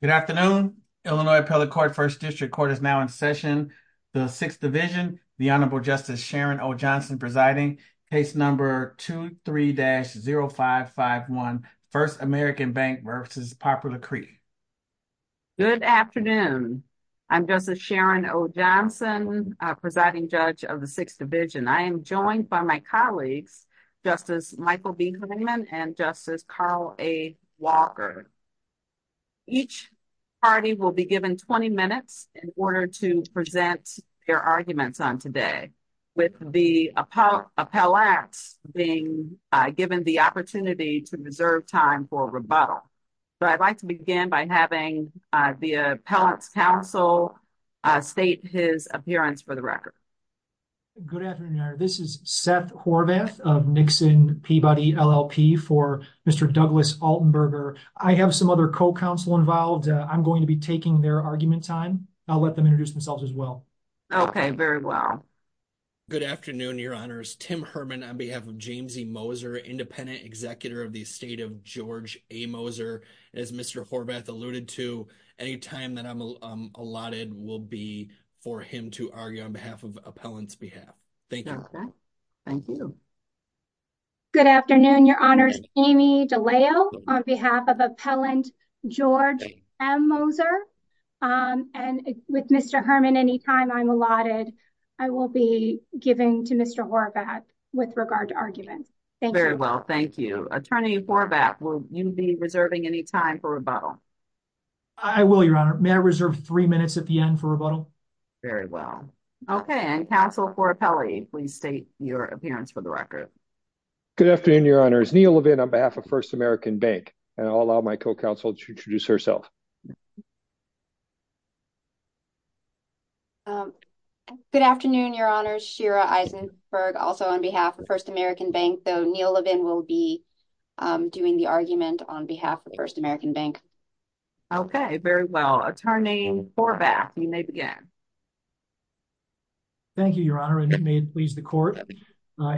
Good afternoon. Illinois Appellate Court, 1st District Court is now in session. The 6th Division, the Honorable Justice Sharon O. Johnson presiding, case number 23-0551, 1st American Bank v. Poplar Creek. Good afternoon. I'm Justice Sharon O. Johnson, presiding judge of the 6th Division. I am joined by my colleagues, Justice Michael B. Klingman and Justice Carl A. Walker. Each party will be given 20 minutes in order to present their arguments on today, with the appellate being given the opportunity to reserve time for rebuttal. So I'd like to begin by having the appellate's counsel state his appearance for the record. Good afternoon, Your Honor. This is Seth Horvath of Nixon Peabody LLP for Mr. Douglas Altenberger. I have some other co-counsel involved. I'm going to be taking their argument time. I'll let them introduce themselves as well. Okay, very well. Good afternoon, Your Honors. Tim Herman on behalf of James E. Moser, independent executor of the estate of George A. Moser. As Mr. Horvath alluded to, any time that I'm allotted will be for him to argue on behalf of appellant's behalf. Thank you. Thank you. Good afternoon, Your Honors. Amy DeLeo on behalf of appellant George M. Moser. And with Mr. Herman, any time I'm allotted, I will be giving to Mr. Horvath with regard to arguments. Thank you. Very well, thank you. Attorney Horvath, will you be reserving any time for rebuttal? I will, Your Honor. May I reserve three minutes at the end for rebuttal? Very well. Okay, and Counsel Cora Pelly, please state your appearance for the record. Good afternoon, Your Honors. Neil Levin on behalf of First American Bank. And I'll allow my co-counsel to introduce herself. Good afternoon, Your Honors. Shira Eisenberg, also on behalf of First American Bank. Though Neil Levin will be doing the argument on behalf of First American Bank. Okay, very well. Attorney Horvath, you may begin. Thank you, Your Honor, and may it please the court.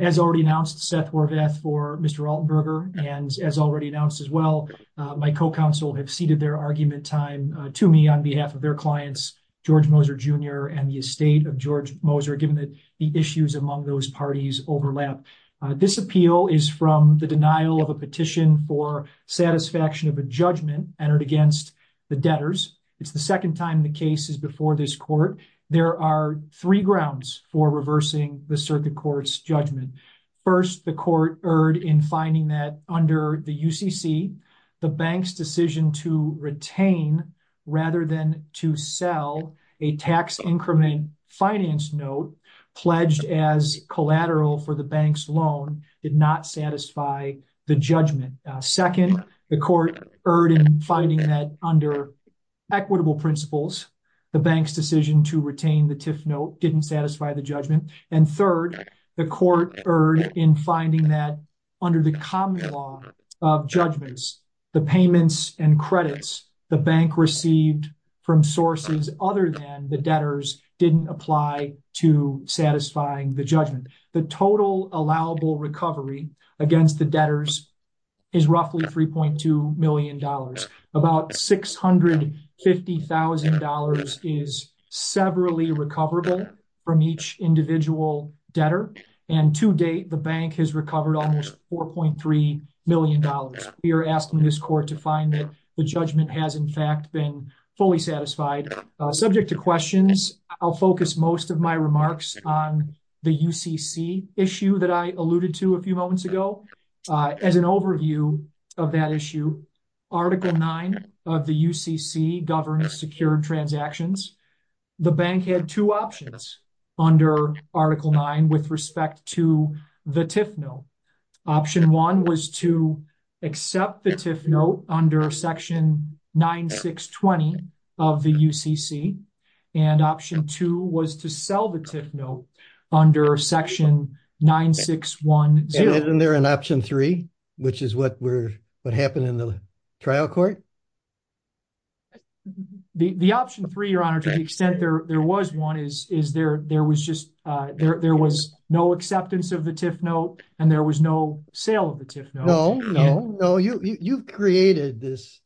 As already announced, Seth Horvath for Mr. Altenberger and as already announced as well, my co-counsel have ceded their argument time to me on behalf of their clients, George Moser Jr. and the estate of George Moser, given that the issues among those parties overlap. This appeal is from the denial of a petition for satisfaction of a judgment entered against the debtors. It's the second time the case is before this court. There are three grounds for reversing the circuit court's judgment. First, the court erred in finding that under the UCC, the bank's decision to retain rather than to sell a tax increment finance note pledged as collateral for the bank's loan did not satisfy the judgment. Second, the court erred in finding that under equitable principles, the bank's decision to retain the TIF note didn't satisfy the judgment. And third, the court erred in finding that under the common law of judgments, the payments and credits the bank received from sources other than the debtors didn't apply to satisfying the judgment. The total allowable recovery against the debtors is about $650,000 is severally recoverable from each individual debtor. And to date, the bank has recovered almost $4.3 million. We are asking this court to find that the judgment has in fact been fully satisfied. Subject to questions, I'll focus most of my remarks on the UCC issue that I alluded to a few moments ago. As an overview of that issue, Article 9 of the UCC governs secured transactions. The bank had two options under Article 9 with respect to the TIF note. Option 1 was to accept the TIF note under Section 9620 of the UCC, and Option 2 was to sell the TIF note under Section 9610. Isn't there an Option 3, which is what happened in the trial court? The Option 3, Your Honor, to the extent there was one, is there was just no acceptance of the TIF note and there was no sale of the TIF note. No, you've created this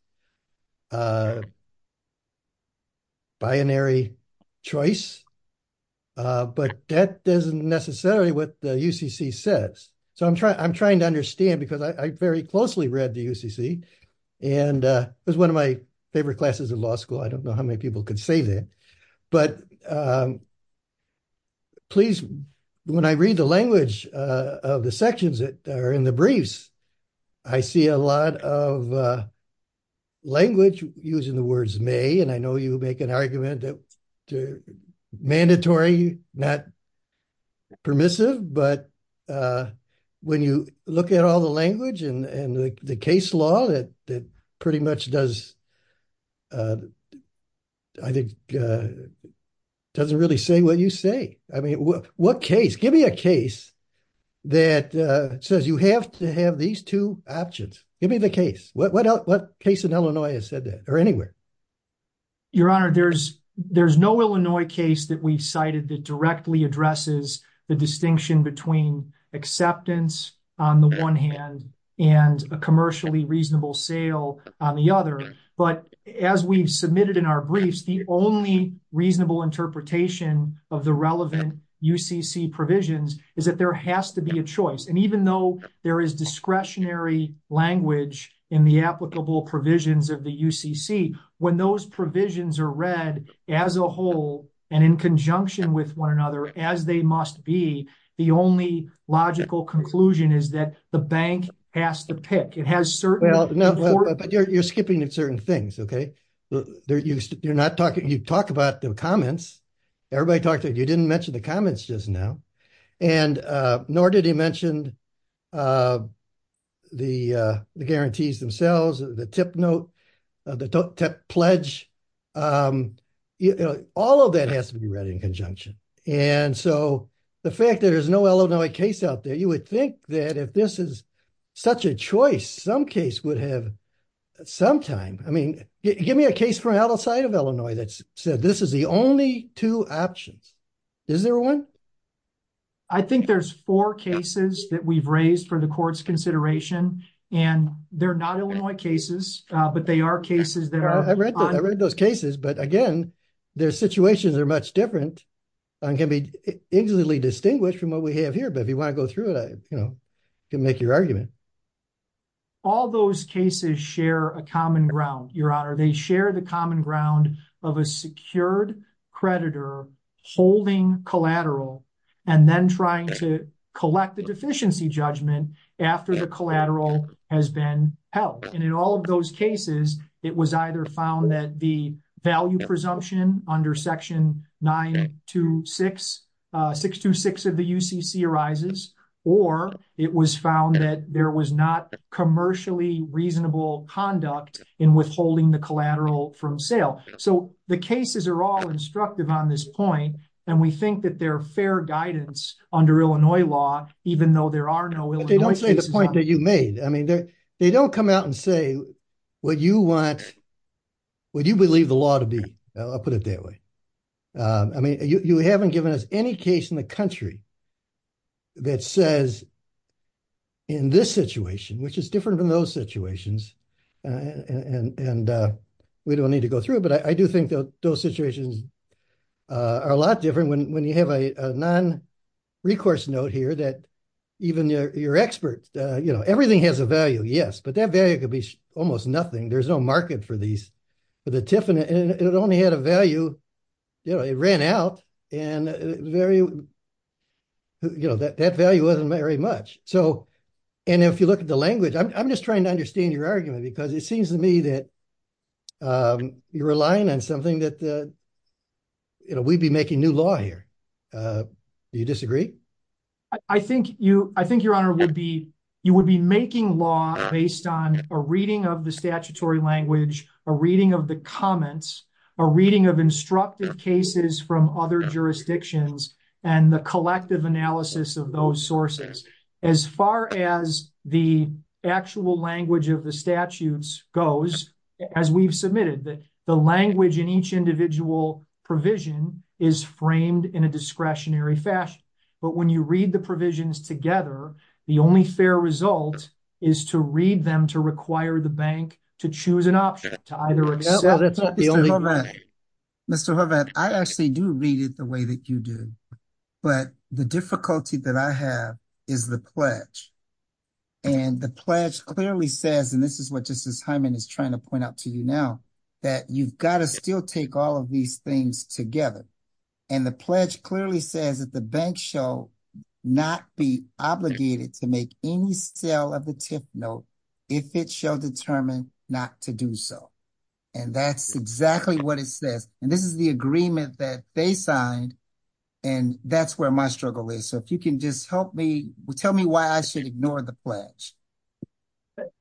binary choice, but that isn't necessarily what the UCC says. So I'm trying to understand because I very closely read the UCC, and it was one of my favorite classes in law school. I don't know how many people could say that. Please, when I read the language of the sections that are in the briefs, I see a lot of language using the words may, and I know you make an argument that mandatory not permissive, but when you look at all the language and the case law that pretty much does I think doesn't really say what you say. I mean what case? Give me a case that says you have to have these two options. Give me the case. What case in Illinois has said that, or anywhere? Your Honor, there's no Illinois case that we've cited that directly addresses the distinction between acceptance on the one hand and a commercially reasonable sale on the other, but as we've submitted in our briefs, the only reasonable interpretation of the relevant UCC provisions is that there has to be a choice, and even though there is discretionary language in the applicable provisions of the UCC, when those provisions are read as a whole and in conjunction with one another as they must be, the only logical conclusion is that the bank has to pick. It has certain... But you're skipping certain things, okay? You talk about the comments. Everybody talked about you didn't mention the comments just now, and nor did he mention the guarantees themselves, the tip note, the pledge. All of that has to be read in conjunction, and so the fact that there's no Illinois case out there, you would think that if this is such a choice, some case would have... Give me a case from outside of Illinois that said this is the only two options. Is there one? I think there's four cases that we've raised for the Court's consideration, and they're not Illinois cases, but they are cases that are... I read those cases, but again, their situations are much different and can be easily distinguished from what we have here, but if you want to go through it, I can make your argument. All those cases share a common ground, Your Honor. They share the common ground of a secured creditor holding collateral and then trying to collect the deficiency judgment after the collateral has been held. In all of those cases, it was either found that the value presumption under Section 926 of the UCC arises, or it was found that there was not commercially reasonable conduct in withholding the collateral from sale. The cases are all instructive on this point, and we think that they're fair guidance under Illinois law, even though there are no Illinois cases. But they don't say the point that you made. I mean, they don't come out and say, would you believe the law to be? I'll put it that way. I mean, you haven't given us any case in the country that says in this situation, which is different than those situations, and we don't need to go through it, but I do think that those situations are a lot different when you have a non-recourse note here that even your experts, you know, everything has a value, yes, but that value could be almost nothing. There's no market for these, for the TIF, and it only had a value, you know, it ran out, and you know, that value wasn't very much. And if you look at the language, I'm just trying to understand your argument, because it seems to me that you're relying on something that you know, we'd be making new law here. Do you disagree? I think, Your Honor, you would be making law based on a reading of the statutory language, a reading of the comments, a reading of instructed cases from other jurisdictions, and the collective analysis of those sources. As far as the actual language of the statutes goes, as we've submitted, the language in each individual provision is framed in a discretionary fashion, but when you read the provisions together, the only fair result is to read them to require the bank to choose an option. Mr. Horvath, I actually do read it the way that you do, but the difficulty that I have is the pledge, and the pledge clearly says, and this is what Justice Hyman is trying to point out to you now, that you've got to still take all of these things together. And the pledge clearly says that the bank shall not be obligated to make any sale of the tip note if it shall determine not to do so. And that's exactly what it says. And this is the agreement that they signed, and that's where my struggle is. So if you can just help me, tell me why I should ignore the pledge.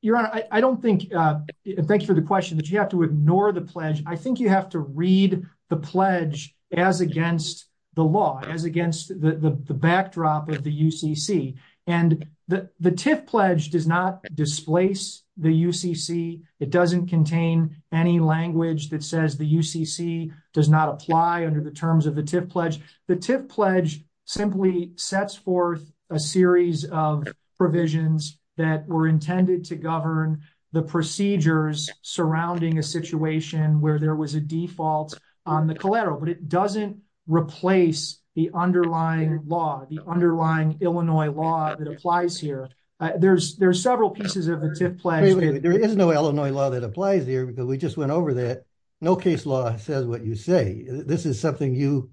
Your Honor, I don't think, thank you for the question, that you have to ignore the pledge. I think you have to read the pledge as against the law, as against the backdrop of the UCC. And the TIF pledge does not displace the UCC. It doesn't contain any language that says the UCC does not apply under the terms of the TIF pledge. The TIF pledge simply sets forth a series of provisions that were intended to govern the procedures surrounding a situation where there was a default on the collateral. But it doesn't replace the underlying law, the underlying Illinois law that applies here. There's several pieces of the TIF pledge... Wait a minute, there is no Illinois law that applies here, but we just went over that. No case law says what you say. This is something you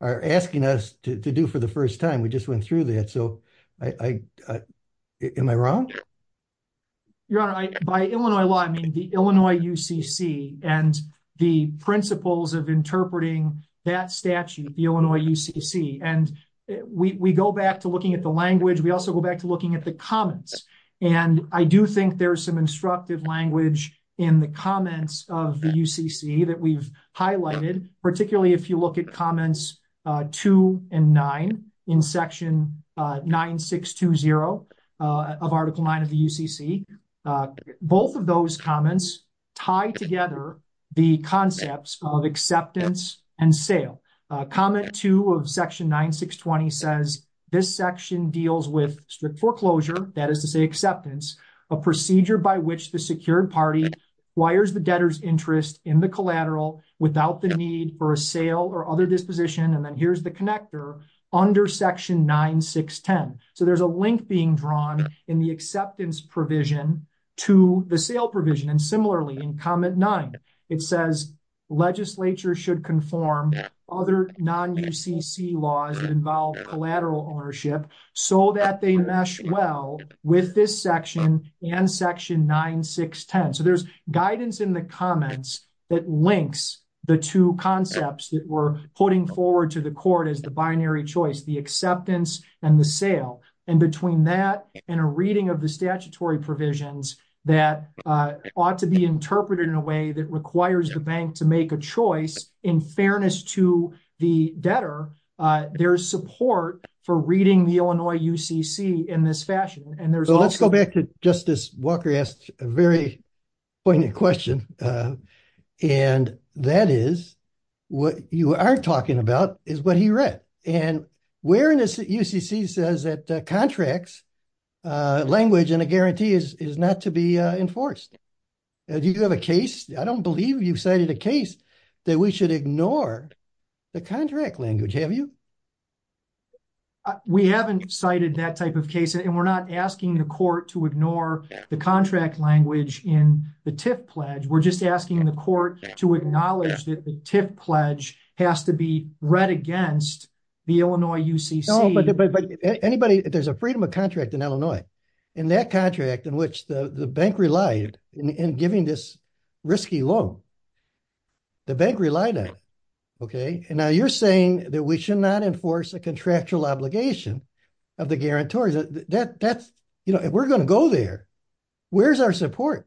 are asking us to do for the first time. We just went through that. Am I wrong? Your Honor, by Illinois law, I mean the Illinois UCC and the principles of interpreting that statute, the Illinois UCC. And we go back to looking at the language. We also go back to looking at the comments. And I do think there's some instructive language in the comments of the UCC that we've highlighted, particularly if you look at comments 2 and 9 in Section 9620 of Article 9 of the UCC. Both of those comments tie together the concepts of acceptance and sale. Comment 2 of Section 9620 says, this section deals with strict foreclosure, that is to say acceptance, a procedure by which the secured party acquires the debtor's interest in the collateral without the need for a sale or other disposition. And then here's the connector under Section 9610. So there's a link being drawn in the acceptance provision to the sale provision. And similarly in Comment 9, it says, legislature should conform other non-UCC laws that involve collateral ownership so that they mesh well with this section and Section 9610. So there's guidance in the comments that links the two concepts that we're putting forward to the court as the binary choice, the acceptance and the sale. And between that and a reading of the statutory provisions that ought to be interpreted in a way that requires the bank to make a choice in fairness to the debtor, there's support for reading the Illinois UCC in this fashion. And there's also- And that is what you are talking about is what he read. And where in this UCC says that contracts language and a guarantee is not to be enforced. Do you have a case? I don't believe you've cited a case that we should ignore the contract language. Have you? We haven't cited that type of case and we're not asking the court to ignore the contract language in the TIF pledge. We're just asking the court to acknowledge that the TIF pledge has to be read against the Illinois UCC. But anybody, there's a freedom of contract in Illinois. And that contract in which the bank relied in giving this risky loan, the bank relied on it. And now you're saying that we should not enforce a contractual obligation of the guarantor. We're going to go there. Where's our support?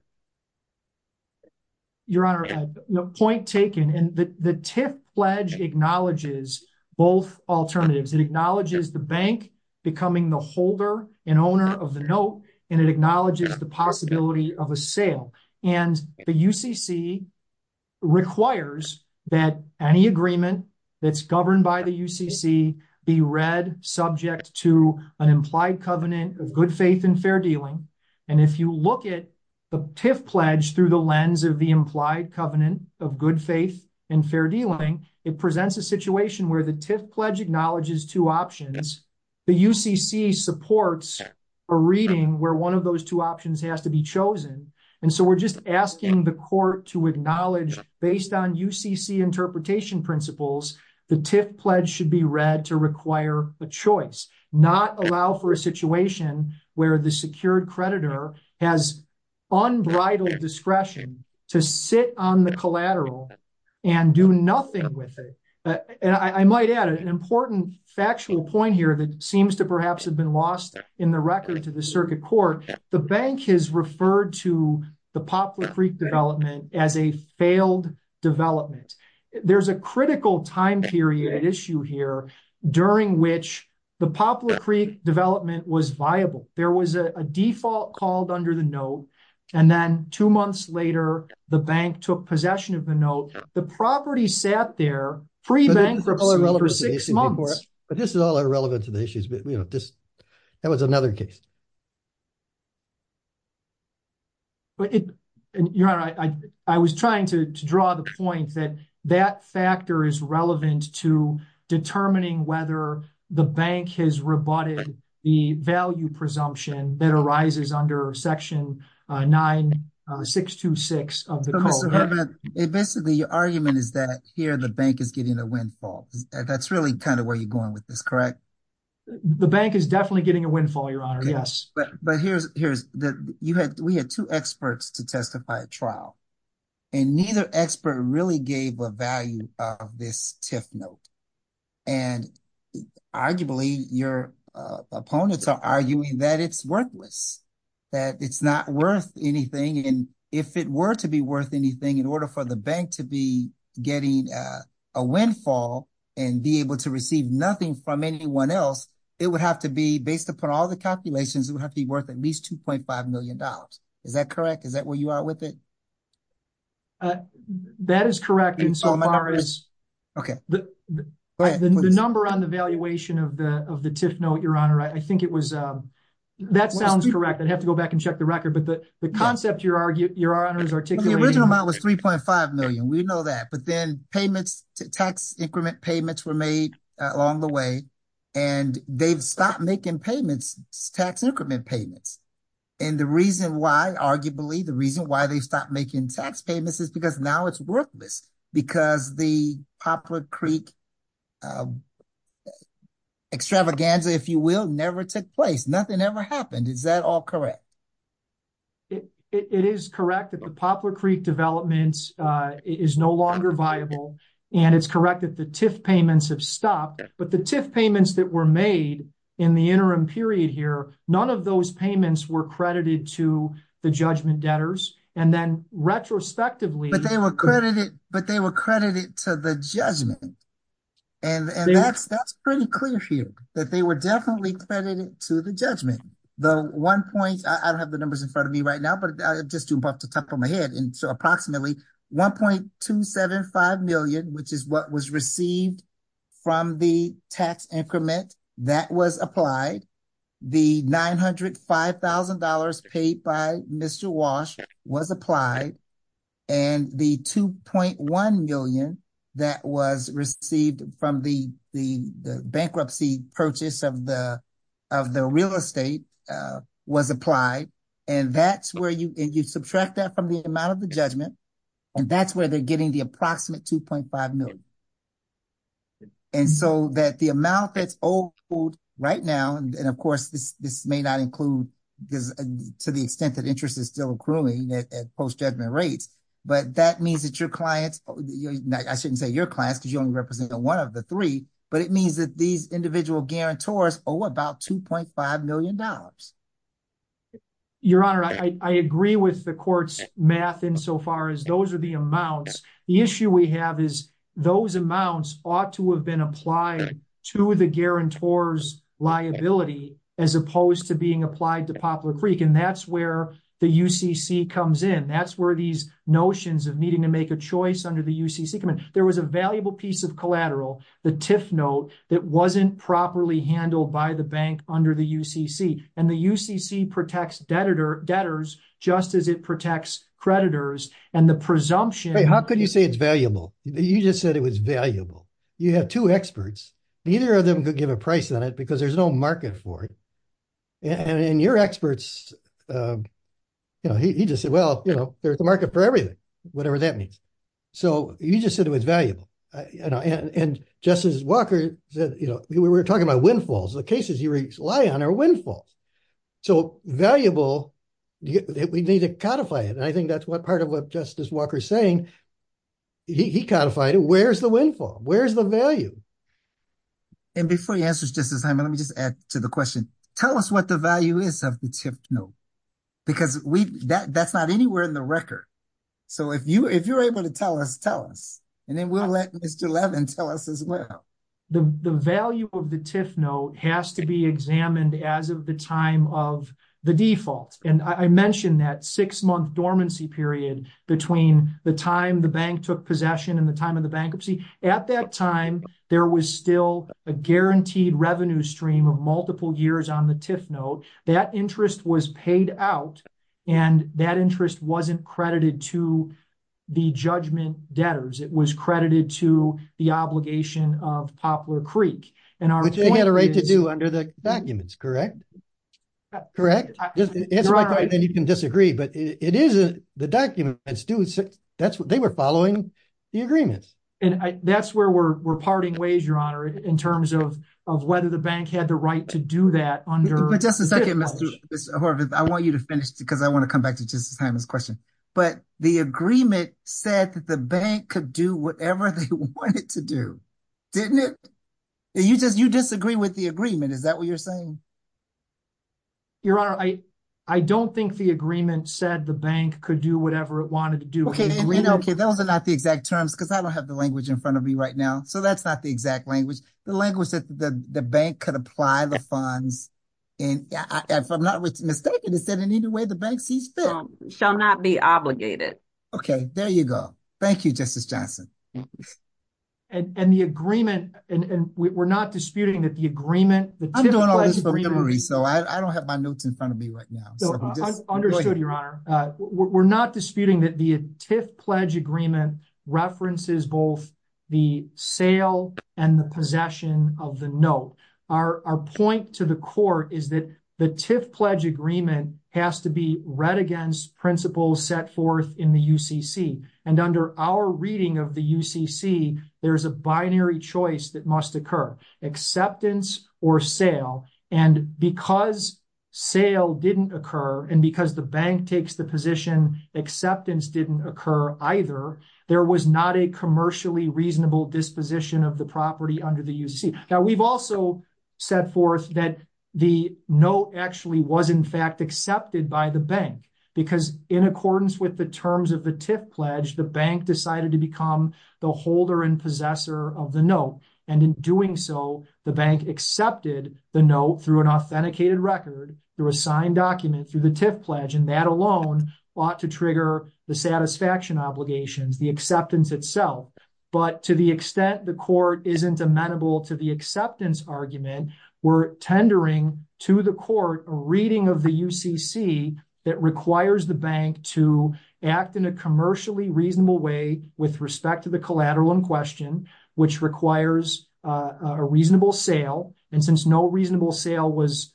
Your Honor, point taken. The TIF pledge acknowledges both alternatives. It acknowledges the bank becoming the holder and owner of the note and it acknowledges the possibility of a sale. And the UCC requires that any agreement that's governed by the UCC be read subject to an implied covenant of good faith and fair dealing. And if you look at the TIF pledge through the lens of the implied covenant of good faith and fair dealing, it presents a situation where the TIF pledge acknowledges two options. The UCC supports a reading where one of those two options has to be chosen. And so we're just asking the court to acknowledge based on UCC interpretation principles, the TIF pledge should be read to require a choice, not allow for a situation where the secured creditor has unbridled discretion to sit on the collateral and do nothing with it. And I might add an important factual point here that seems to perhaps have been lost in the record to the circuit court. The bank has referred to the Poplar Creek development as a failed development. There's a critical time period issue here during which the Poplar Creek development was viable. There was a default called under the note and then two months later the bank took possession of the note. The property sat there pre-bankruptcy for six months. But this is all irrelevant to the issues. That was another case. Your Honor, I was trying to draw the point that that the bank has rebutted the value presumption that arises under section 9626 of the code. Your argument is that here the bank is getting a windfall. That's really kind of where you're going with this, correct? The bank is definitely getting a windfall, Your Honor. Yes. But we had two experts to testify at trial and neither expert really gave a value of this TIF note. And arguably your opponents are arguing that it's worthless. That it's not worth anything. And if it were to be worth anything, in order for the bank to be getting a windfall and be able to receive nothing from anyone else, it would have to be, based upon all the calculations, it would have to be worth at least $2.5 million. Is that correct? Is that where you are with it? That is correct insofar as the number on the valuation of the TIF note, Your Honor, I think it was, that sounds correct. I'd have to go back and check the record. But the concept, Your Honor, is articulating The original amount was $3.5 million. We know that. But then payments, tax increment payments were made along the way. And they've stopped making payments, tax increment payments. And the reason why arguably, the reason why they stopped making tax payments is because now it's worthless. Because the Poplar Creek extravaganza, if you will, never took place. Nothing ever happened. Is that all correct? It is correct that the Poplar Creek development is no longer viable. And it's correct that the TIF payments have stopped. But the TIF payments that were made in the interim period here, none of those payments were credited to the judgment debtors. And then retrospectively But they were credited to the judgment. And that's pretty clear here. That they were definitely credited to the judgment. The one point, I don't have the numbers in front of me right now, but I'm just too buff to talk from my head. And so approximately $1.275 million, which is what was received from the tax increment that was applied. The $905,000 paid by Mr. Walsh was applied. And the $2.1 million that was received from the bankruptcy purchase of the real estate was applied. And that's where you subtract that from the amount of the judgment. And that's where they're getting the approximate $2.5 million. And so that the amount that's owed right now, and of course this may not include to the extent that interest is still accruing at post-judgment rates, but that means that your clients, I shouldn't say your clients because you only represent one of the three, but it means that these individual guarantors owe about $2.5 million. Your Honor, I agree with the court's math insofar as those are the amounts. The issue we have is those amounts ought to have been applied to the guarantor's liability as opposed to being applied to Poplar Creek. And that's where the UCC comes in. That's where these notions of needing to make a choice under the UCC come in. There was a valuable piece of collateral, the TIF note that wasn't properly handled by the bank under the UCC. And the UCC protects debtors just as it protects creditors. And the presumption... You have two experts. Neither of them could give a price on it because there's no market for it. And your experts he just said, well, there's a market for everything, whatever that means. So you just said it was valuable. And Justice Walker said, we were talking about windfalls. The cases you rely on are windfalls. So valuable, we need to codify it. And I think that's part of what Justice Walker's saying. He codified it. Where's the windfall? Where's the value? And before he answers Justice Simon, let me just add to the question. Tell us what the value is of the TIF note. Because that's not anywhere in the record. So if you're able to tell us, tell us. And then we'll let Mr. Levin tell us as well. The value of the TIF note has to be examined as of the time of the default. And I mentioned that six-month dormancy period between the time the bank took possession and the time of the bankruptcy. At that time there was still a guaranteed revenue stream of multiple years on the TIF note. That interest was paid out. And that interest wasn't credited to the judgment debtors. It was credited to the obligation of Poplar Creek. Which they had a right to do under the documents, correct? Correct? You can disagree, but it is what the documents do. They were following the agreements. And that's where we're parting ways, Your Honor, in terms of whether the bank had the right to do that under... But just a second, Mr. Horvitz. I want you to finish because I want to come back to Justice Simon's question. But the agreement said that the bank could do whatever they wanted to do. Didn't it? You disagree with the agreement. Is that what you're saying? Your Honor, I don't think the agreement said the bank could do whatever it wanted to do. Okay, those are not the exact terms because I don't have the language in front of me right now. So that's not the exact language. The language that the bank could apply the funds in, if I'm not mistaken, it said in either way the bank sees fit. Shall not be obligated. Okay, there you go. Thank you, Justice Johnson. And the agreement, and we're not disputing that the agreement... I'm doing all this from memory, so I don't have my notes in front of me right now. Understood, Your Honor. We're not disputing that the TIF pledge agreement references both the sale and the possession of the note. Our point to the court is that the TIF pledge agreement has to be read against principles set forth in the UCC. And under our reading of the UCC, there's a binary choice that must occur. Acceptance or sale. And because sale didn't occur and because the bank takes the position acceptance didn't occur either, there was not a commercially reasonable disposition of the property under the UCC. Now, we've also set forth that the note actually was in fact accepted by the bank because in accordance with the terms of the TIF pledge, the bank decided to become the holder and possessor of the note. And in doing so, the bank accepted the note through an authenticated record, through a signed document, through the TIF pledge, and that alone ought to trigger the satisfaction obligations, the acceptance itself. But to the extent the court isn't amenable to the acceptance argument, we're tendering to the court a reading of the UCC that requires the bank to act in a commercially reasonable way with respect to the collateral in question, which requires a reasonable sale. And since no reasonable sale was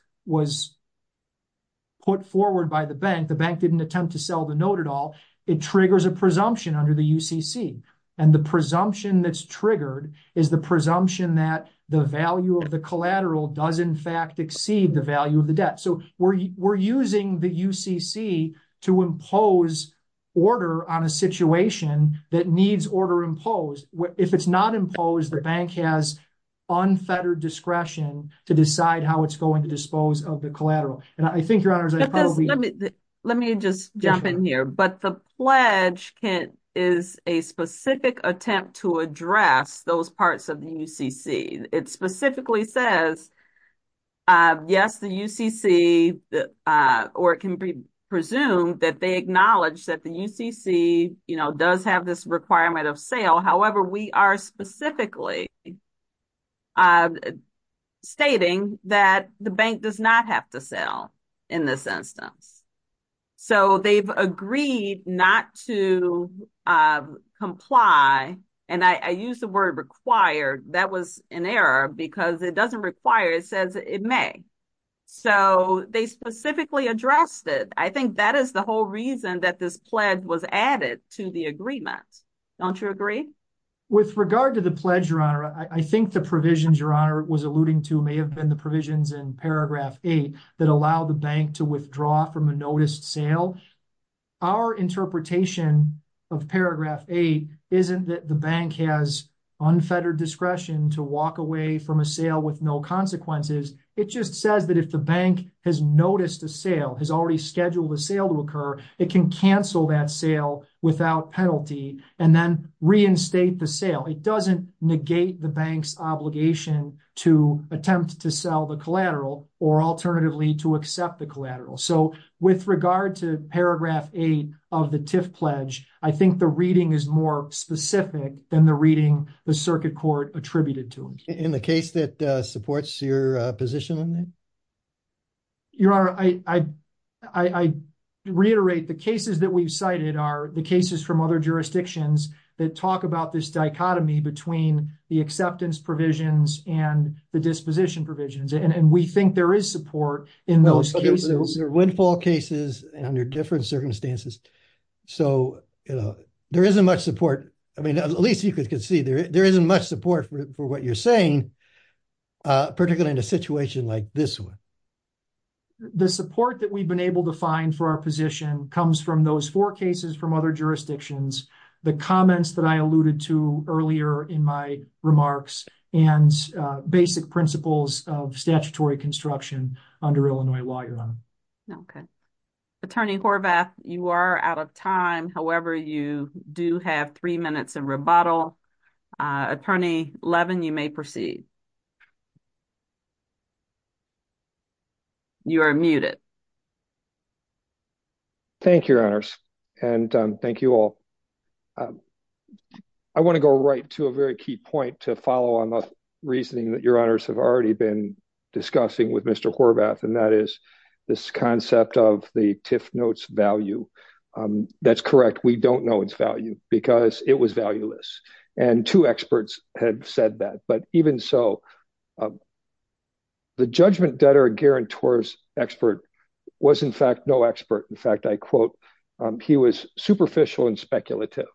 put forward by the bank, the bank didn't attempt to sell the note at all, it triggers a presumption under the UCC. And the presumption that's triggered is the presumption that the value of the collateral does in fact exceed the value of the debt. So we're using the UCC to impose order on a situation that needs order imposed. If it's not imposed, the bank has unfettered discretion to decide how it's going to dispose of the collateral. Let me just jump in here, but the pledge is a specific attempt to address those parts of the UCC. It specifically says yes, the UCC, or it can be presumed that they acknowledge that the UCC does have this requirement of sale. However, we are specifically stating that the bank does not have to sell in this instance. So they've agreed not to comply, and I use the word required, that was an error because it doesn't require, it says it may. So they specifically addressed it. I think that is the pledge was added to the agreement. Don't you agree? With regard to the pledge, Your Honor, I think the provisions Your Honor was alluding to may have been the provisions in paragraph 8 that allow the bank to withdraw from a noticed sale. Our interpretation of paragraph 8 isn't that the bank has unfettered discretion to walk away from a sale with no consequences. It just says that if the bank has noticed a sale, has already scheduled a sale to occur, it can cancel that sale without penalty and then reinstate the sale. It doesn't negate the bank's obligation to attempt to sell the collateral or alternatively to accept the collateral. So with regard to paragraph 8 of the TIFF pledge, I think the reading is more specific than the reading the circuit court attributed to it. In the case that supports your position on that? Your Honor, I reiterate the cases that we've cited are the cases from other jurisdictions that talk about this dichotomy between the acceptance provisions and the disposition provisions. And we think there is support in those cases. There are windfall cases under different circumstances. So there isn't much support. I mean, at least you can see there isn't much support for what you're saying, particularly in a situation like this one. The support that we've been able to find for our position comes from those four cases from other jurisdictions, the comments that I alluded to earlier in my remarks, and basic principles of statutory construction under Illinois law, Your Honor. Okay. Attorney Horvath, you are out of time. However, you do have three minutes in rebuttal. Attorney Levin, you may proceed. You are muted. Thank you, Your Honors. And thank you all. I want to go right to a very key point to follow on the reasoning that Your Honors have already been discussing with Mr. Horvath, and that is this concept of the TIFF note's value. That's correct. We don't know its value because it was valueless. And two experts had said that. But even so, the judgment debtor guarantors expert was, in fact, no expert. In fact, I quote, he was superficial and speculative.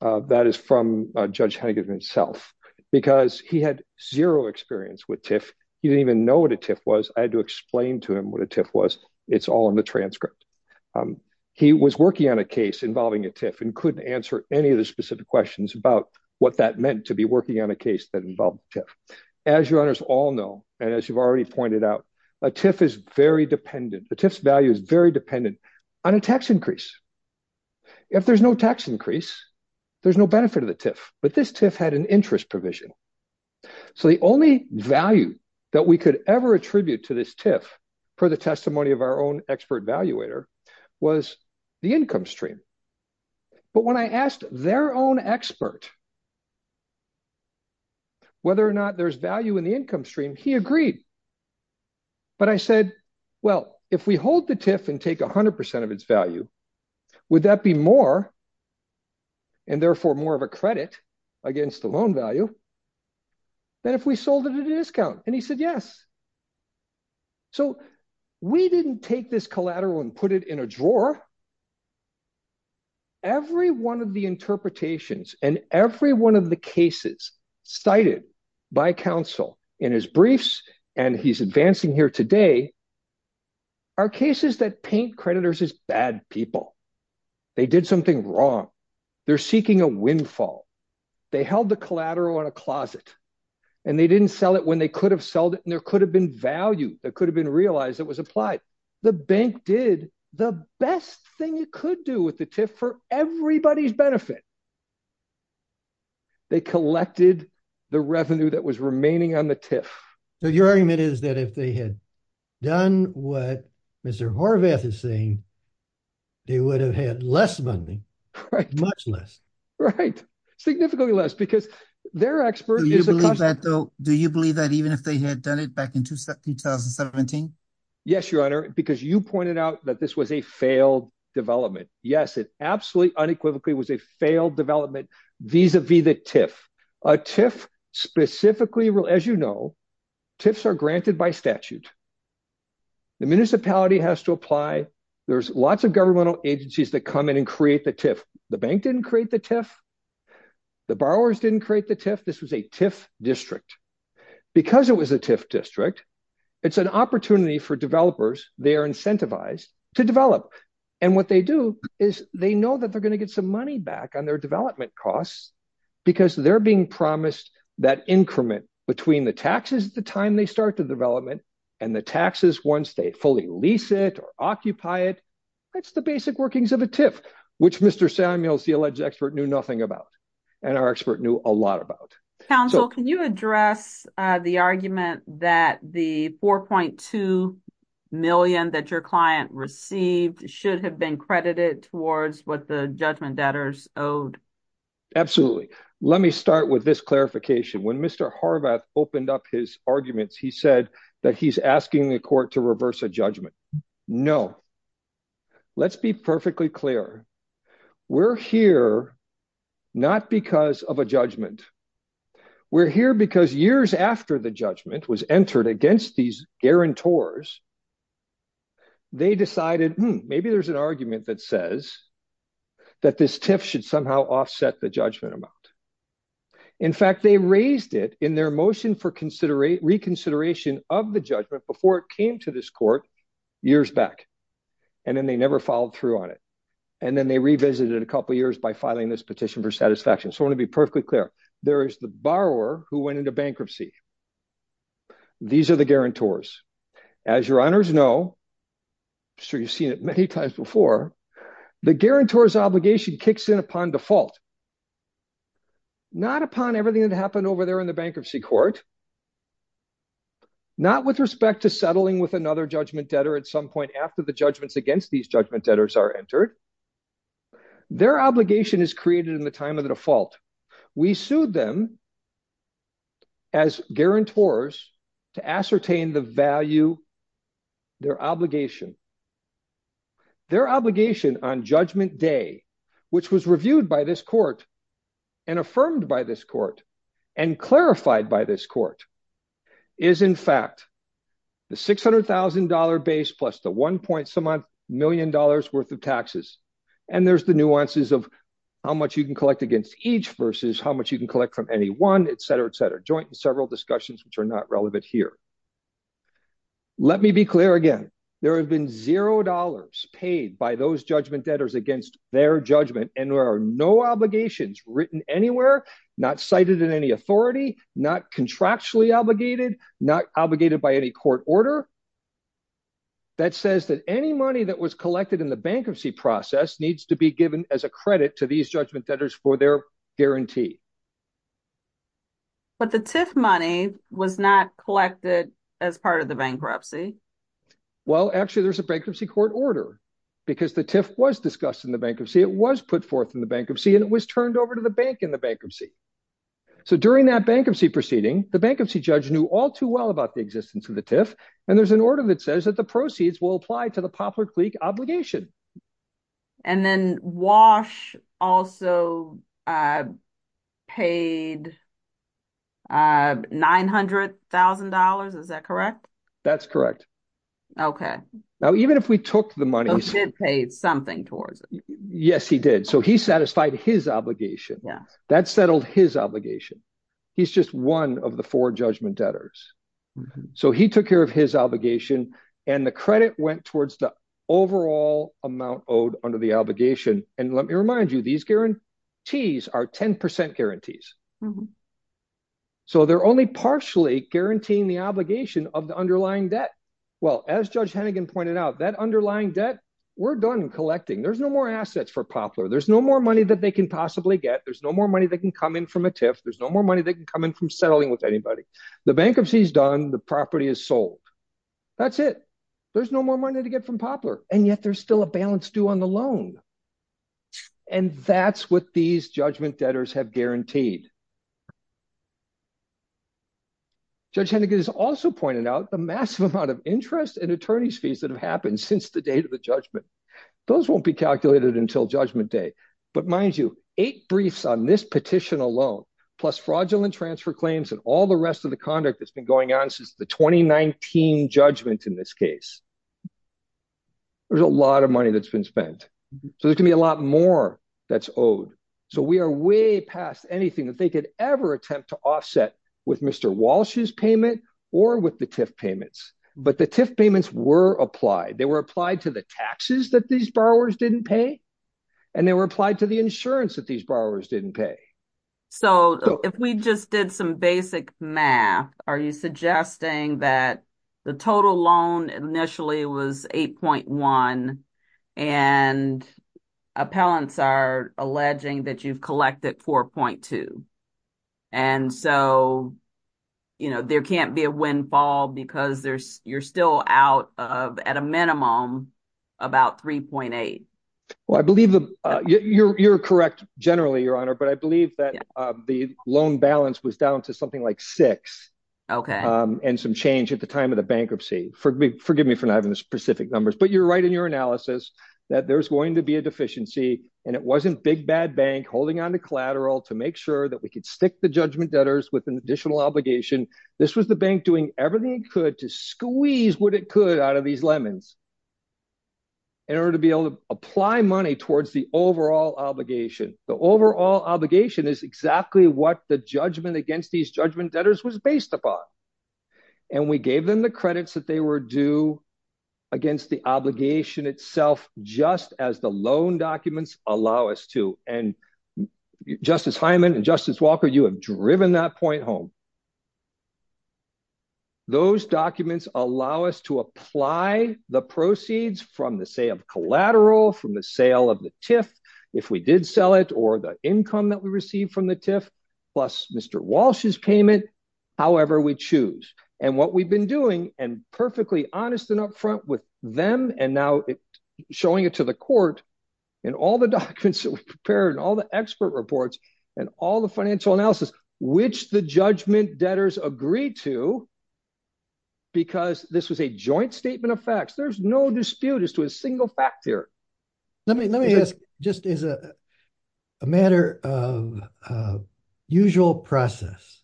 That is from Judge Hennigan himself, because he had zero experience with TIFF. He didn't even know what a TIFF was. I had to explain to him what a TIFF was. It's all in the transcript. He was working on a case involving a TIFF and couldn't answer any of the specific questions about what that meant to be working on a case that involved TIFF. As Your Honors all know, and as you've already pointed out, a TIFF is very dependent. A TIFF's value is very dependent on a tax increase. If there's no tax increase, there's no benefit of the TIFF. But this TIFF had an interest provision. So the only value that we could ever attribute to this TIFF, per the testimony of our own expert evaluator, was the income stream. But when I asked their own expert whether or not there's value in the income stream, he agreed. But I said, well, if we hold the TIFF and take 100% of its value, would that be more, and therefore more of a credit against the loan value, than if we sold it at a discount? And he said, yes. So we didn't take this collateral and put it in a drawer. Every one of the interpretations, and every one of the cases cited by counsel in his briefs, and he's advancing here today, are cases that paint creditors as bad people. They did something wrong. They're seeking a windfall. They held the collateral in a closet. And they didn't sell it when they could have sold it, and there could have been value that could have been realized that was applied. The bank did the best thing it could do with the TIFF for everybody's benefit. They collected the revenue that was remaining on the TIFF. So your argument is that if they had done what Mr. Horvath is saying, they would have had less money. Much less. Right. Significantly less, because their expert is a consultant. Do you believe that even if they had done it back in 2017? Yes, Your Honor, because you pointed out that this was a failed development. Yes, it absolutely unequivocally was a failed development, vis-a-vis the TIFF. A TIFF specifically, as you know, TIFFs are granted by statute. The municipality has to apply. There's lots of governmental agencies that come in and create the TIFF. The bank didn't create the TIFF. The borrowers didn't create the TIFF. This was a TIFF district. Because it was a TIFF district, it's an opportunity for developers, they are incentivized to develop. And what they do is they know that they're going to get some money back on their development costs because they're being promised that increment between the taxes at the time they start the development and the taxes once they fully lease it or occupy it. That's the basic workings of a TIFF, which Mr. Samuels, the alleged expert, knew nothing about. And our expert knew a lot about. Counsel, can you address the argument that the $4.2 million that your client received should have been credited towards what the judgment debtors owed? Absolutely. Let me start with this clarification. When Mr. Horvath opened up his arguments, he said that he's asking the court to reverse a judgment. No. Let's be perfectly clear. We're here not because of a judgment. We're here because years after the judgment was entered against these guarantors, they decided maybe there's an argument that says that this TIFF should somehow offset the judgment amount. In fact, they raised it in their motion for reconsideration of the judgment before it came to this court years back. And then they never followed through on it. And then they revisited it a couple of years by filing this petition for satisfaction. So I want to be perfectly clear. There is the borrower who went into bankruptcy. These are the guarantors. As your honors know, I'm sure you've seen it many times before, the guarantor's obligation kicks in upon default. Not upon everything that happened over there in the bankruptcy court. Not with respect to settling with another judgment debtor at some point after the judgments against these judgment debtors are entered. Their obligation is created in the time of the default. We sued them as guarantors to ascertain the value, their obligation. Their obligation on judgment day, which was reviewed by this court and affirmed by this court and clarified by this court, is in fact the $600,000 base plus the $1.7 million worth of taxes. And there's the nuances of how much you can collect against each versus how much you can collect from any one, etc., etc. Joint and several discussions which are not relevant here. Let me be clear again. There have been $0 paid by those judgment debtors against their judgment, and there are no obligations written anywhere, not cited in any authority, not contractually obligated, not obligated by any court order that says that any money that was collected in the bankruptcy process needs to be given as a credit to these judgment debtors for their guarantee. But the TIF money was not collected as part of the bankruptcy. Well, actually there's a bankruptcy court order because the TIF was discussed in the bankruptcy. It was put forth in the bankruptcy, and it was turned over to the bank in the bankruptcy. So during that bankruptcy proceeding, the bankruptcy judge knew all too well about the existence of the TIF, and there's an order that says that the proceeds will apply to the Poplar Cleek obligation. And then Walsh also paid $900,000. Is that correct? That's correct. Okay. Now, even if we took the money, he still paid something towards it. Yes, he did. So he satisfied his obligation. That settled his obligation. He's just one of the four judgment debtors. So he took care of his obligation, and the credit went towards the overall amount owed under the obligation. And let me remind you, these guarantees are 10% guarantees. So they're only partially guaranteeing the obligation of the underlying debt. Well, as Judge Hennigan pointed out, that underlying debt, we're done collecting. There's no more assets for Poplar. There's no more money that they can possibly get. There's no more money that can come in from a TIF. There's no more money that can come in from settling with anybody. The bankruptcy is done. The property is sold. That's it. There's no more money to get from Poplar. And yet there's still a balance due on the loan. And that's what these judgment debtors have guaranteed. Judge Hennigan has also pointed out the massive amount of interest and attorney's fees that have happened since the date of the judgment. Those won't be calculated until judgment day. But mind you, eight briefs on this petition alone, plus fraudulent transfer claims and all the rest of the conduct that's been going on since the 2019 judgment in this case, there's a lot of money that's been spent. So there's going to be a lot more that's owed. So we are way past anything that they could ever attempt to offset with Mr. Walsh's payment or with the TIF payments. But the TIF payments were applied. They were applied to the taxes that these borrowers didn't pay. And they were applied to the insurance that these borrowers didn't pay. So if we just did some basic math, are you suggesting that the total loan initially was $8.1 and appellants are alleging that you've collected $4.2. And so there can't be a windfall because you're still out of at a minimum about $3.8. Well, I believe you're correct. Generally, Your Honor, but I believe that the loan balance was down to something like $6 and some change at the time of the bankruptcy. Forgive me for not having the specific numbers, but you're right in your analysis that there's going to be a deficiency and it wasn't Big Bad Bank holding on to collateral to make sure that we could stick the judgment debtors with an additional obligation. This was the bank doing everything it could to squeeze what it could out of these lemons in order to be able to apply money towards the overall obligation. The overall obligation is exactly what the judgment against these judgment debtors was based upon. And we gave them the credits that they were due against the obligation itself, just as the loan documents allow us to. And Justice Hyman and Justice Walker, you have driven that point home. Those documents allow us to apply the proceeds from the sale of collateral, from the sale of the TIF, if we did sell it, or the income that we received from the TIF, plus Mr. Walsh's payment, however we choose. And what we've been doing, and perfectly honest and upfront with them, and now showing it to the court, and all the documents that we prepared, and all the expert reports, and all the financial analysis, which the judgment debtors agreed to, because this was a joint statement of facts. There's no dispute as to a single fact here. Let me ask, just as a matter of usual process.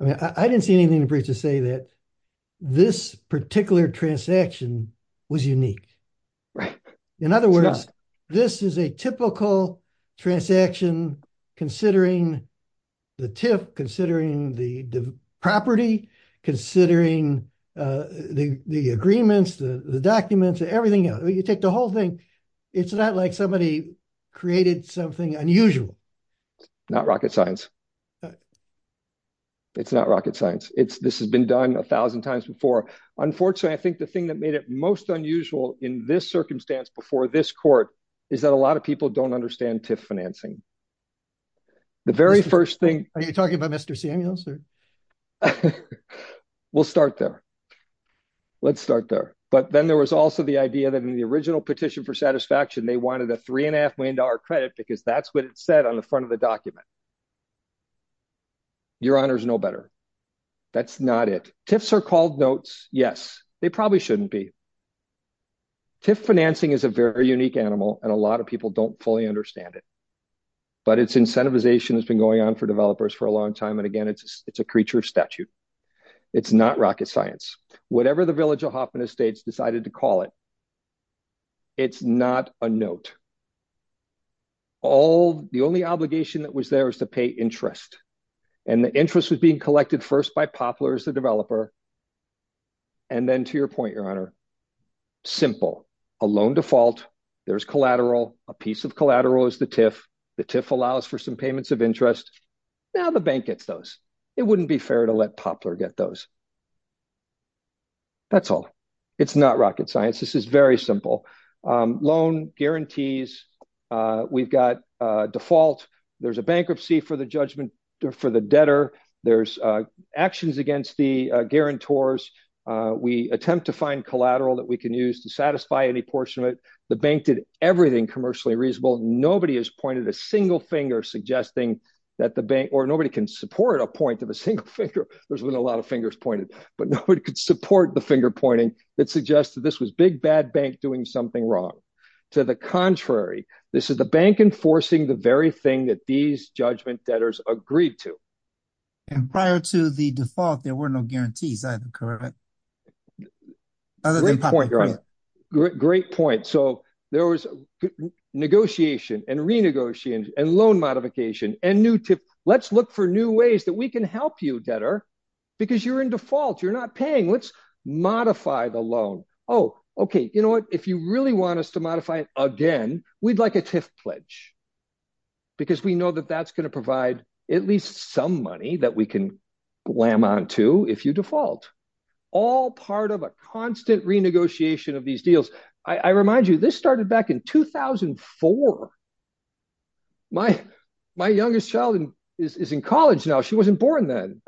I mean, I didn't see anything in the briefs to say that this particular transaction was unique. In other words, this is a typical transaction, considering the TIF, considering the property, considering the agreements, the documents, everything else. You take the whole thing, it's not like somebody created something unusual. Not rocket science. It's not rocket science. This has been done a thousand times before. Unfortunately, I think the thing that made it most unusual in this circumstance, before this court, is that a lot of people don't understand TIF financing. The very first thing... Are you talking about Mr. Samuels? We'll start there. Let's start there. But then there was also the idea that in the original petition for satisfaction, they wanted a $3.5 million credit, because that's what it said on the front of the document. Your honors know better. That's not it. TIFs are called notes, yes. They probably shouldn't be. TIF financing is a very unique animal, and a lot of people don't fully understand it. But its incentivization has been going on for developers for a long time, and again, it's a creature of statute. It's not rocket science. Whatever the village of Hoffman Estates decided to call it, it's not a note. The only obligation that was there was to pay interest. Simple. A loan default. There's collateral. A piece of collateral is the TIF. The TIF allows for some payments of interest. Now the bank gets those. It wouldn't be fair to let Poplar get those. That's all. It's not rocket science. This is very simple. Loan guarantees. We've got default. There's a bankruptcy for the debtor. There's actions against the guarantors. We attempt to find collateral that we can use to satisfy any portion of it. The bank did everything commercially reasonable. Nobody has pointed a single finger suggesting that the bank, or nobody can support a point of a single finger. There's been a lot of fingers pointed, but nobody could support the finger pointing that suggested this was Big Bad Bank doing something wrong. To the contrary, this is the bank enforcing the very thing that these judgment debtors agreed to. Prior to the default, there were no guarantees. Great point. There was negotiation and renegotiation and loan modification. Let's look for new ways that we can help you, debtor, because you're in default. You're not paying. Let's modify the loan. If you really want us to modify it again, we'd like a TIF pledge. Because we know that that's going to provide at least some money that we can glam on to if you default. All part of a constant renegotiation of these deals. I remind you, this started back in 2004. My youngest child is in college now. She wasn't born then.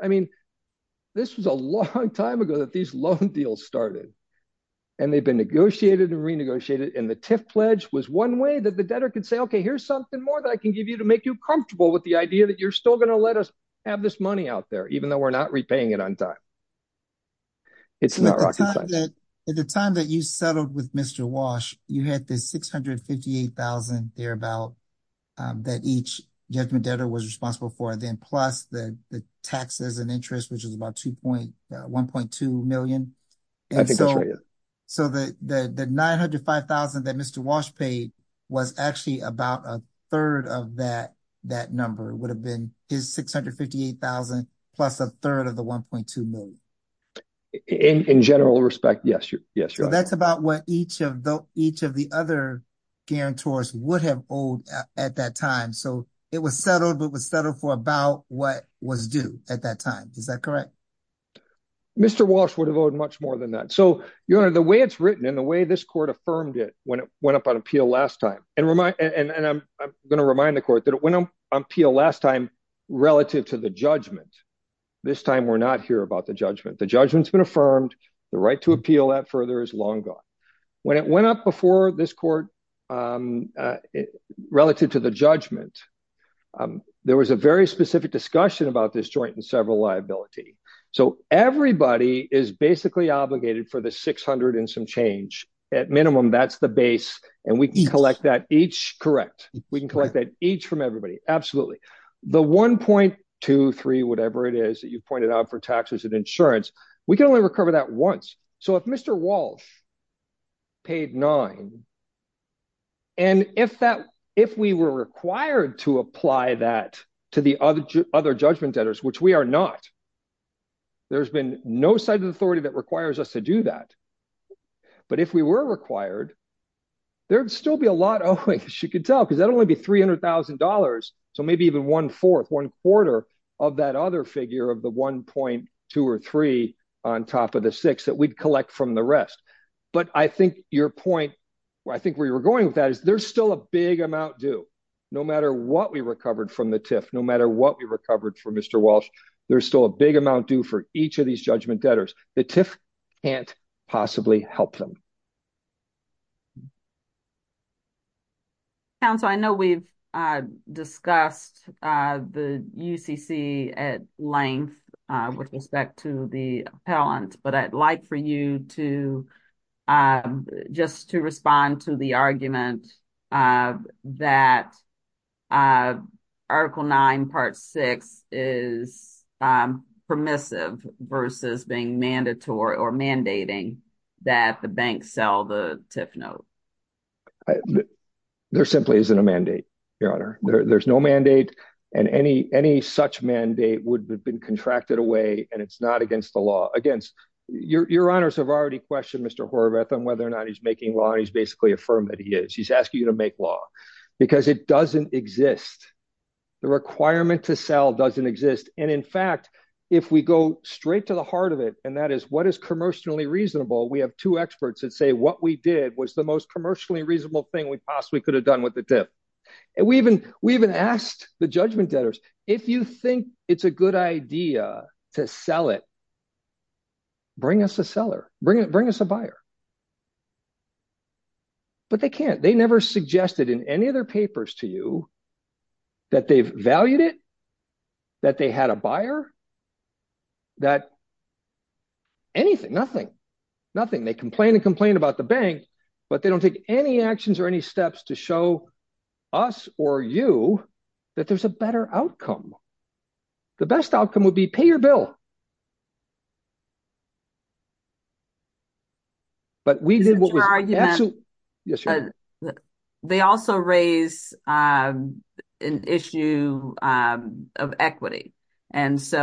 This was a long time ago that these loan deals started. They've been negotiated and renegotiated. The TIF pledge was one way that the debtor could say, okay, here's something more that I can give you to make you comfortable with the idea that you're still going to let us have this money out there, even though we're not repaying it on time. It's not rocket science. At the time that you settled with Mr. Walsh, you had the $658,000 thereabout that each judgment debtor was responsible for. Then plus the taxes and interest, which is about $1.2 million. The $905,000 that Mr. Walsh paid was actually about a third of that number. It would have been his $658,000 plus a third of the $1.2 million. That's about what each of the other guarantors would have owed at that time. It was settled, but it was settled for about what was due at that time. Is that correct? Mr. Walsh would have owed much more than that. The way it's written and the way this court affirmed it when it went up on appeal last time, and I'm going to remind the court that it went on appeal last time relative to the judgment. This time we're not here about the judgment. The judgment's been affirmed. The right to appeal that further is long gone. When it went up before this court relative to the judgment, there was a very specific discussion about this joint and several liability. Everybody is basically obligated for the $600,000 and some change. At minimum, that's the base. We can collect that each. Correct. We can collect that each from everybody. Absolutely. The $1.23, whatever it is that you pointed out for taxes and insurance, we can only recover that once. If Mr. Walsh paid $9,000 and if we were required to apply that to the other judgment debtors, which we are not, there's been no side of the authority that requires us to do that. If we were required, there'd still be a lot owing, as you can tell, because that'd only be $300,000, so maybe even one-fourth, one-quarter of that other figure of the $1.23 on top of the six that we'd collect from the rest. Your point, where I think we were going with that, is there's still a big amount due. No matter what we recovered from the TIF, no matter what we recovered from Mr. Walsh, there's still a big amount due for each of these judgment debtors. The TIF can't possibly help them. Council, I know we've discussed the UCC at length with respect to the appellant, but I'd like for you just to respond to the argument that Article 9, Part 6 is permissive versus being mandatory or mandating that the banks sell the TIF note. There simply isn't a mandate, Your Honor. There's no mandate, and any such mandate would have been contracted away, and it's not against the law. Your Honors have already questioned Mr. Horvath on whether or not he's making law, and he's basically affirmed that he is. He's asking you to make law, because it doesn't exist. The requirement to sell doesn't exist. In fact, if we go straight to the heart of it, and that is what is commercially reasonable, we have two experts that say what we did was the most commercially reasonable thing we possibly could have done with the TIF. We even asked the judgment debtors, if you think it's a good idea to sell it, bring us a seller. Bring us a seller. But they can't. They never suggested in any of their papers to you that they've valued it, that they had a buyer, that anything, nothing, nothing. They complain and complain about the bank, but they don't take any actions or any steps to show us or you that there's a better outcome. The best outcome would be pay your bill. They also raise an issue of equity. Is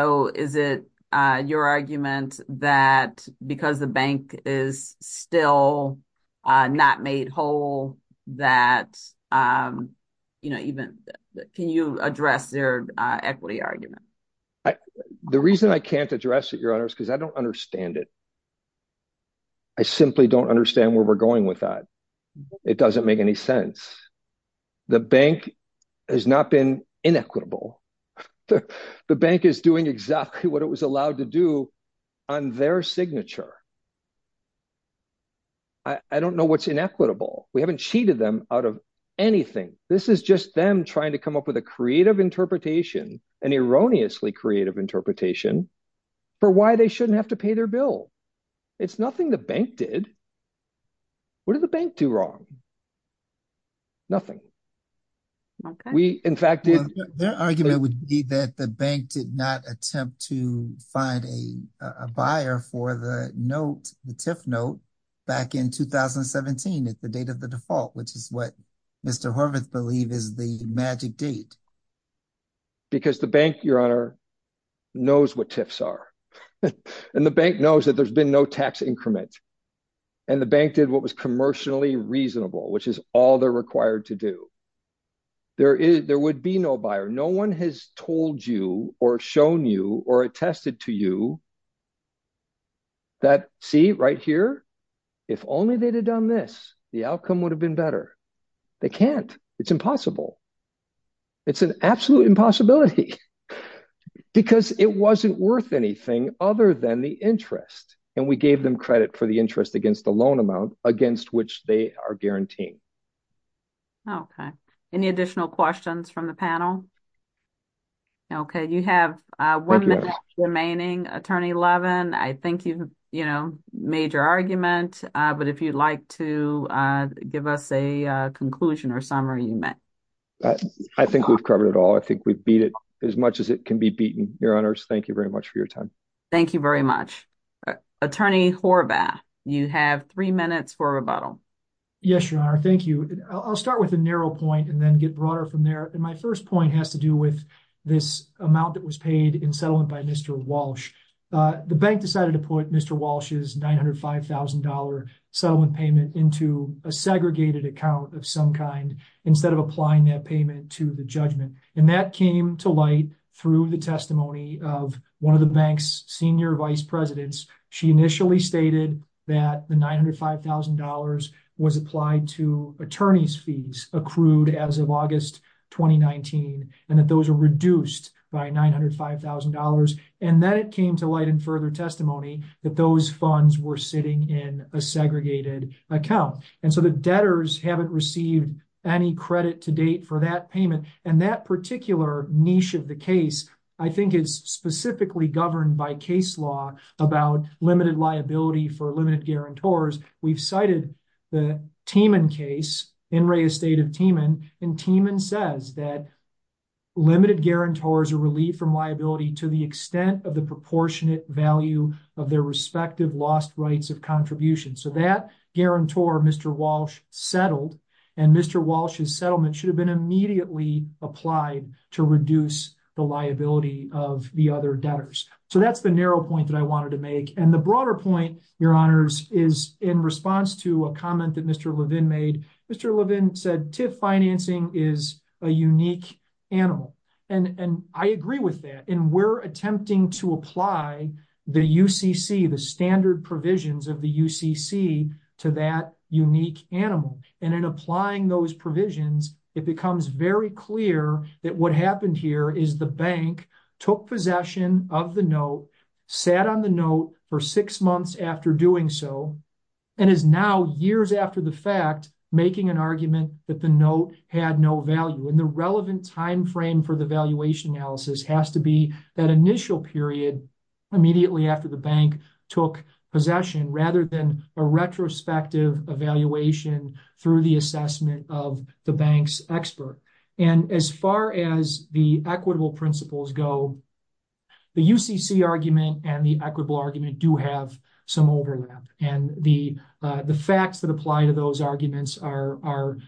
it your argument that because the bank is still not made whole, can you address their equity argument? The reason I can't address it, Your Honor, is because I don't understand it. I simply don't understand where we're going with that. It doesn't make any sense. The bank has not been inequitable. The bank is doing exactly what it was allowed to do on their signature. I don't know what's inequitable. We haven't cheated them out of anything. This is just them trying to come up with a creative interpretation, an erroneously creative interpretation, for why they shouldn't have to pay their bill. It's nothing the bank did. What did the bank do wrong? Nothing. Their argument would be that the bank did not attempt to find a buyer for the note, the TIF note, back in 2017 at the date of the default, which is what Mr. Horvath believed is the magic date. Because the bank, Your Honor, knows what TIFs are. And the bank knows that there's been no tax increment. And the bank did what was commercially reasonable, which is all they're required to do. There would be no buyer. No one has told you or shown you or attested to you that, see, right here, if only they'd have done this, the outcome would have been better. They can't. It's impossible. It's an absolute impossibility. Because it wasn't worth anything other than the interest. And we gave them credit for the interest against the loan amount against which they are guaranteed. Okay. Any additional questions from the panel? Okay. You have one minute remaining, Attorney Levin. I think you've made your argument. But if you'd like to give us a conclusion or summary, you may. I think we've covered it all. I think we've beat it as much as it can be beaten. Your Honors, thank you very much for your time. Thank you very much. Attorney Horvath, you have three minutes for a rebuttal. Yes, Your Honor. Thank you. I'll start with a narrow point and then get broader from there. My first point has to do with this amount that was paid in settlement by Mr. Walsh. The bank decided to put Mr. Walsh's $905,000 settlement payment into a segregated account of some kind instead of applying that payment to the judgment. And that came to light through the testimony of one of the bank's senior vice presidents. She initially stated that the $905,000 was applied to attorney's fees accrued as of August 2019. And that those are reduced by $905,000. And then it came to light in further testimony that those were paid in a segregated account. And so the debtors haven't received any credit to date for that payment. And that particular niche of the case I think is specifically governed by case law about limited liability for limited guarantors. We've cited the Tiemann case, In re Estate of Tiemann. And Tiemann says that limited guarantors are relieved from liability to the extent of the proportionate value of their debtors. So that guarantor, Mr. Walsh, settled. And Mr. Walsh's settlement should have been immediately applied to reduce the liability of the other debtors. So that's the narrow point that I wanted to make. And the broader point, your honors, is in response to a comment that Mr. Levin made. Mr. Levin said, TIFF financing is a unique animal. And I agree with that. And we're attempting to apply the UCC, the standard provisions of the UCC, to that unique animal. And in applying those provisions, it becomes very clear that what happened here is the bank took possession of the note, sat on the note for six months after doing so, and is now years after the fact making an argument that the note had no value. And the relevant time frame for the valuation analysis has to be that initial period immediately after the bank took possession, rather than a retrospective evaluation through the assessment of the bank's expert. And as far as the equitable principles go, the UCC argument and the equitable argument do have some overlap. And the facts that apply to those arguments are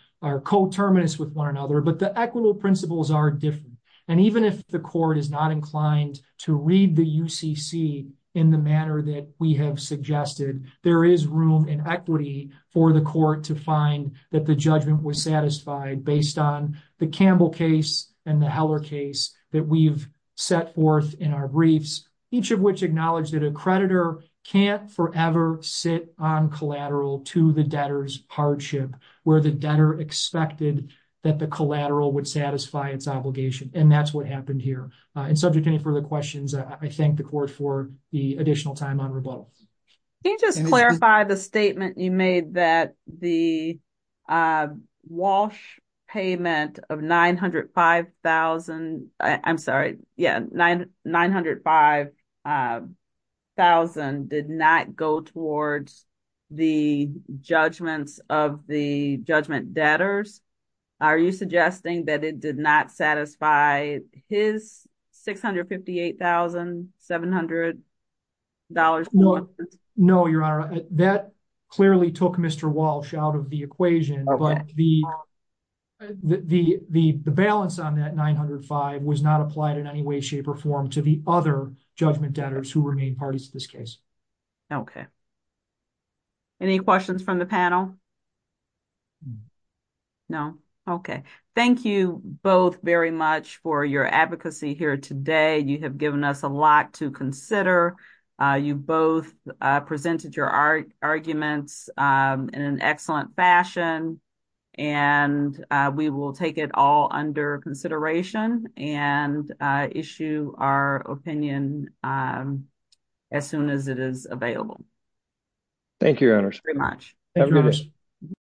coterminous with one another, but the equitable principles are different. And even if the court is not inclined to read the UCC in the manner that we have suggested, there is room and equity for the court to find that the judgment was satisfied based on the Campbell case and the Heller case that we've set forth in our briefs, each of which acknowledged that a creditor can't forever sit on collateral to the debtor's hardship, where the debtor expected that the collateral would satisfy its creditors. And that's what happened here. And subject to any further questions, I thank the court for the additional time on rebuttals. Can you just clarify the statement you made that the Walsh payment of $905,000 I'm sorry, yeah, $905,000 did not go towards the judgments of the judgment debtors? Are you suggesting that it did not satisfy his $658,700? No, Your Honor, that clearly took Mr. Walsh out of the equation, but the balance on that $905,000 was not applied in any way, shape, or form to the other judgment debtors who remain parties to this case. Okay. Any questions from the panel? No? Okay. Thank you both very much for your advocacy here today. You have given us a lot to consider. You both presented your arguments in an excellent fashion, and we will take it all under consideration and issue our opinion as soon as it is available. Thank you, Your Honor. Thank you very much.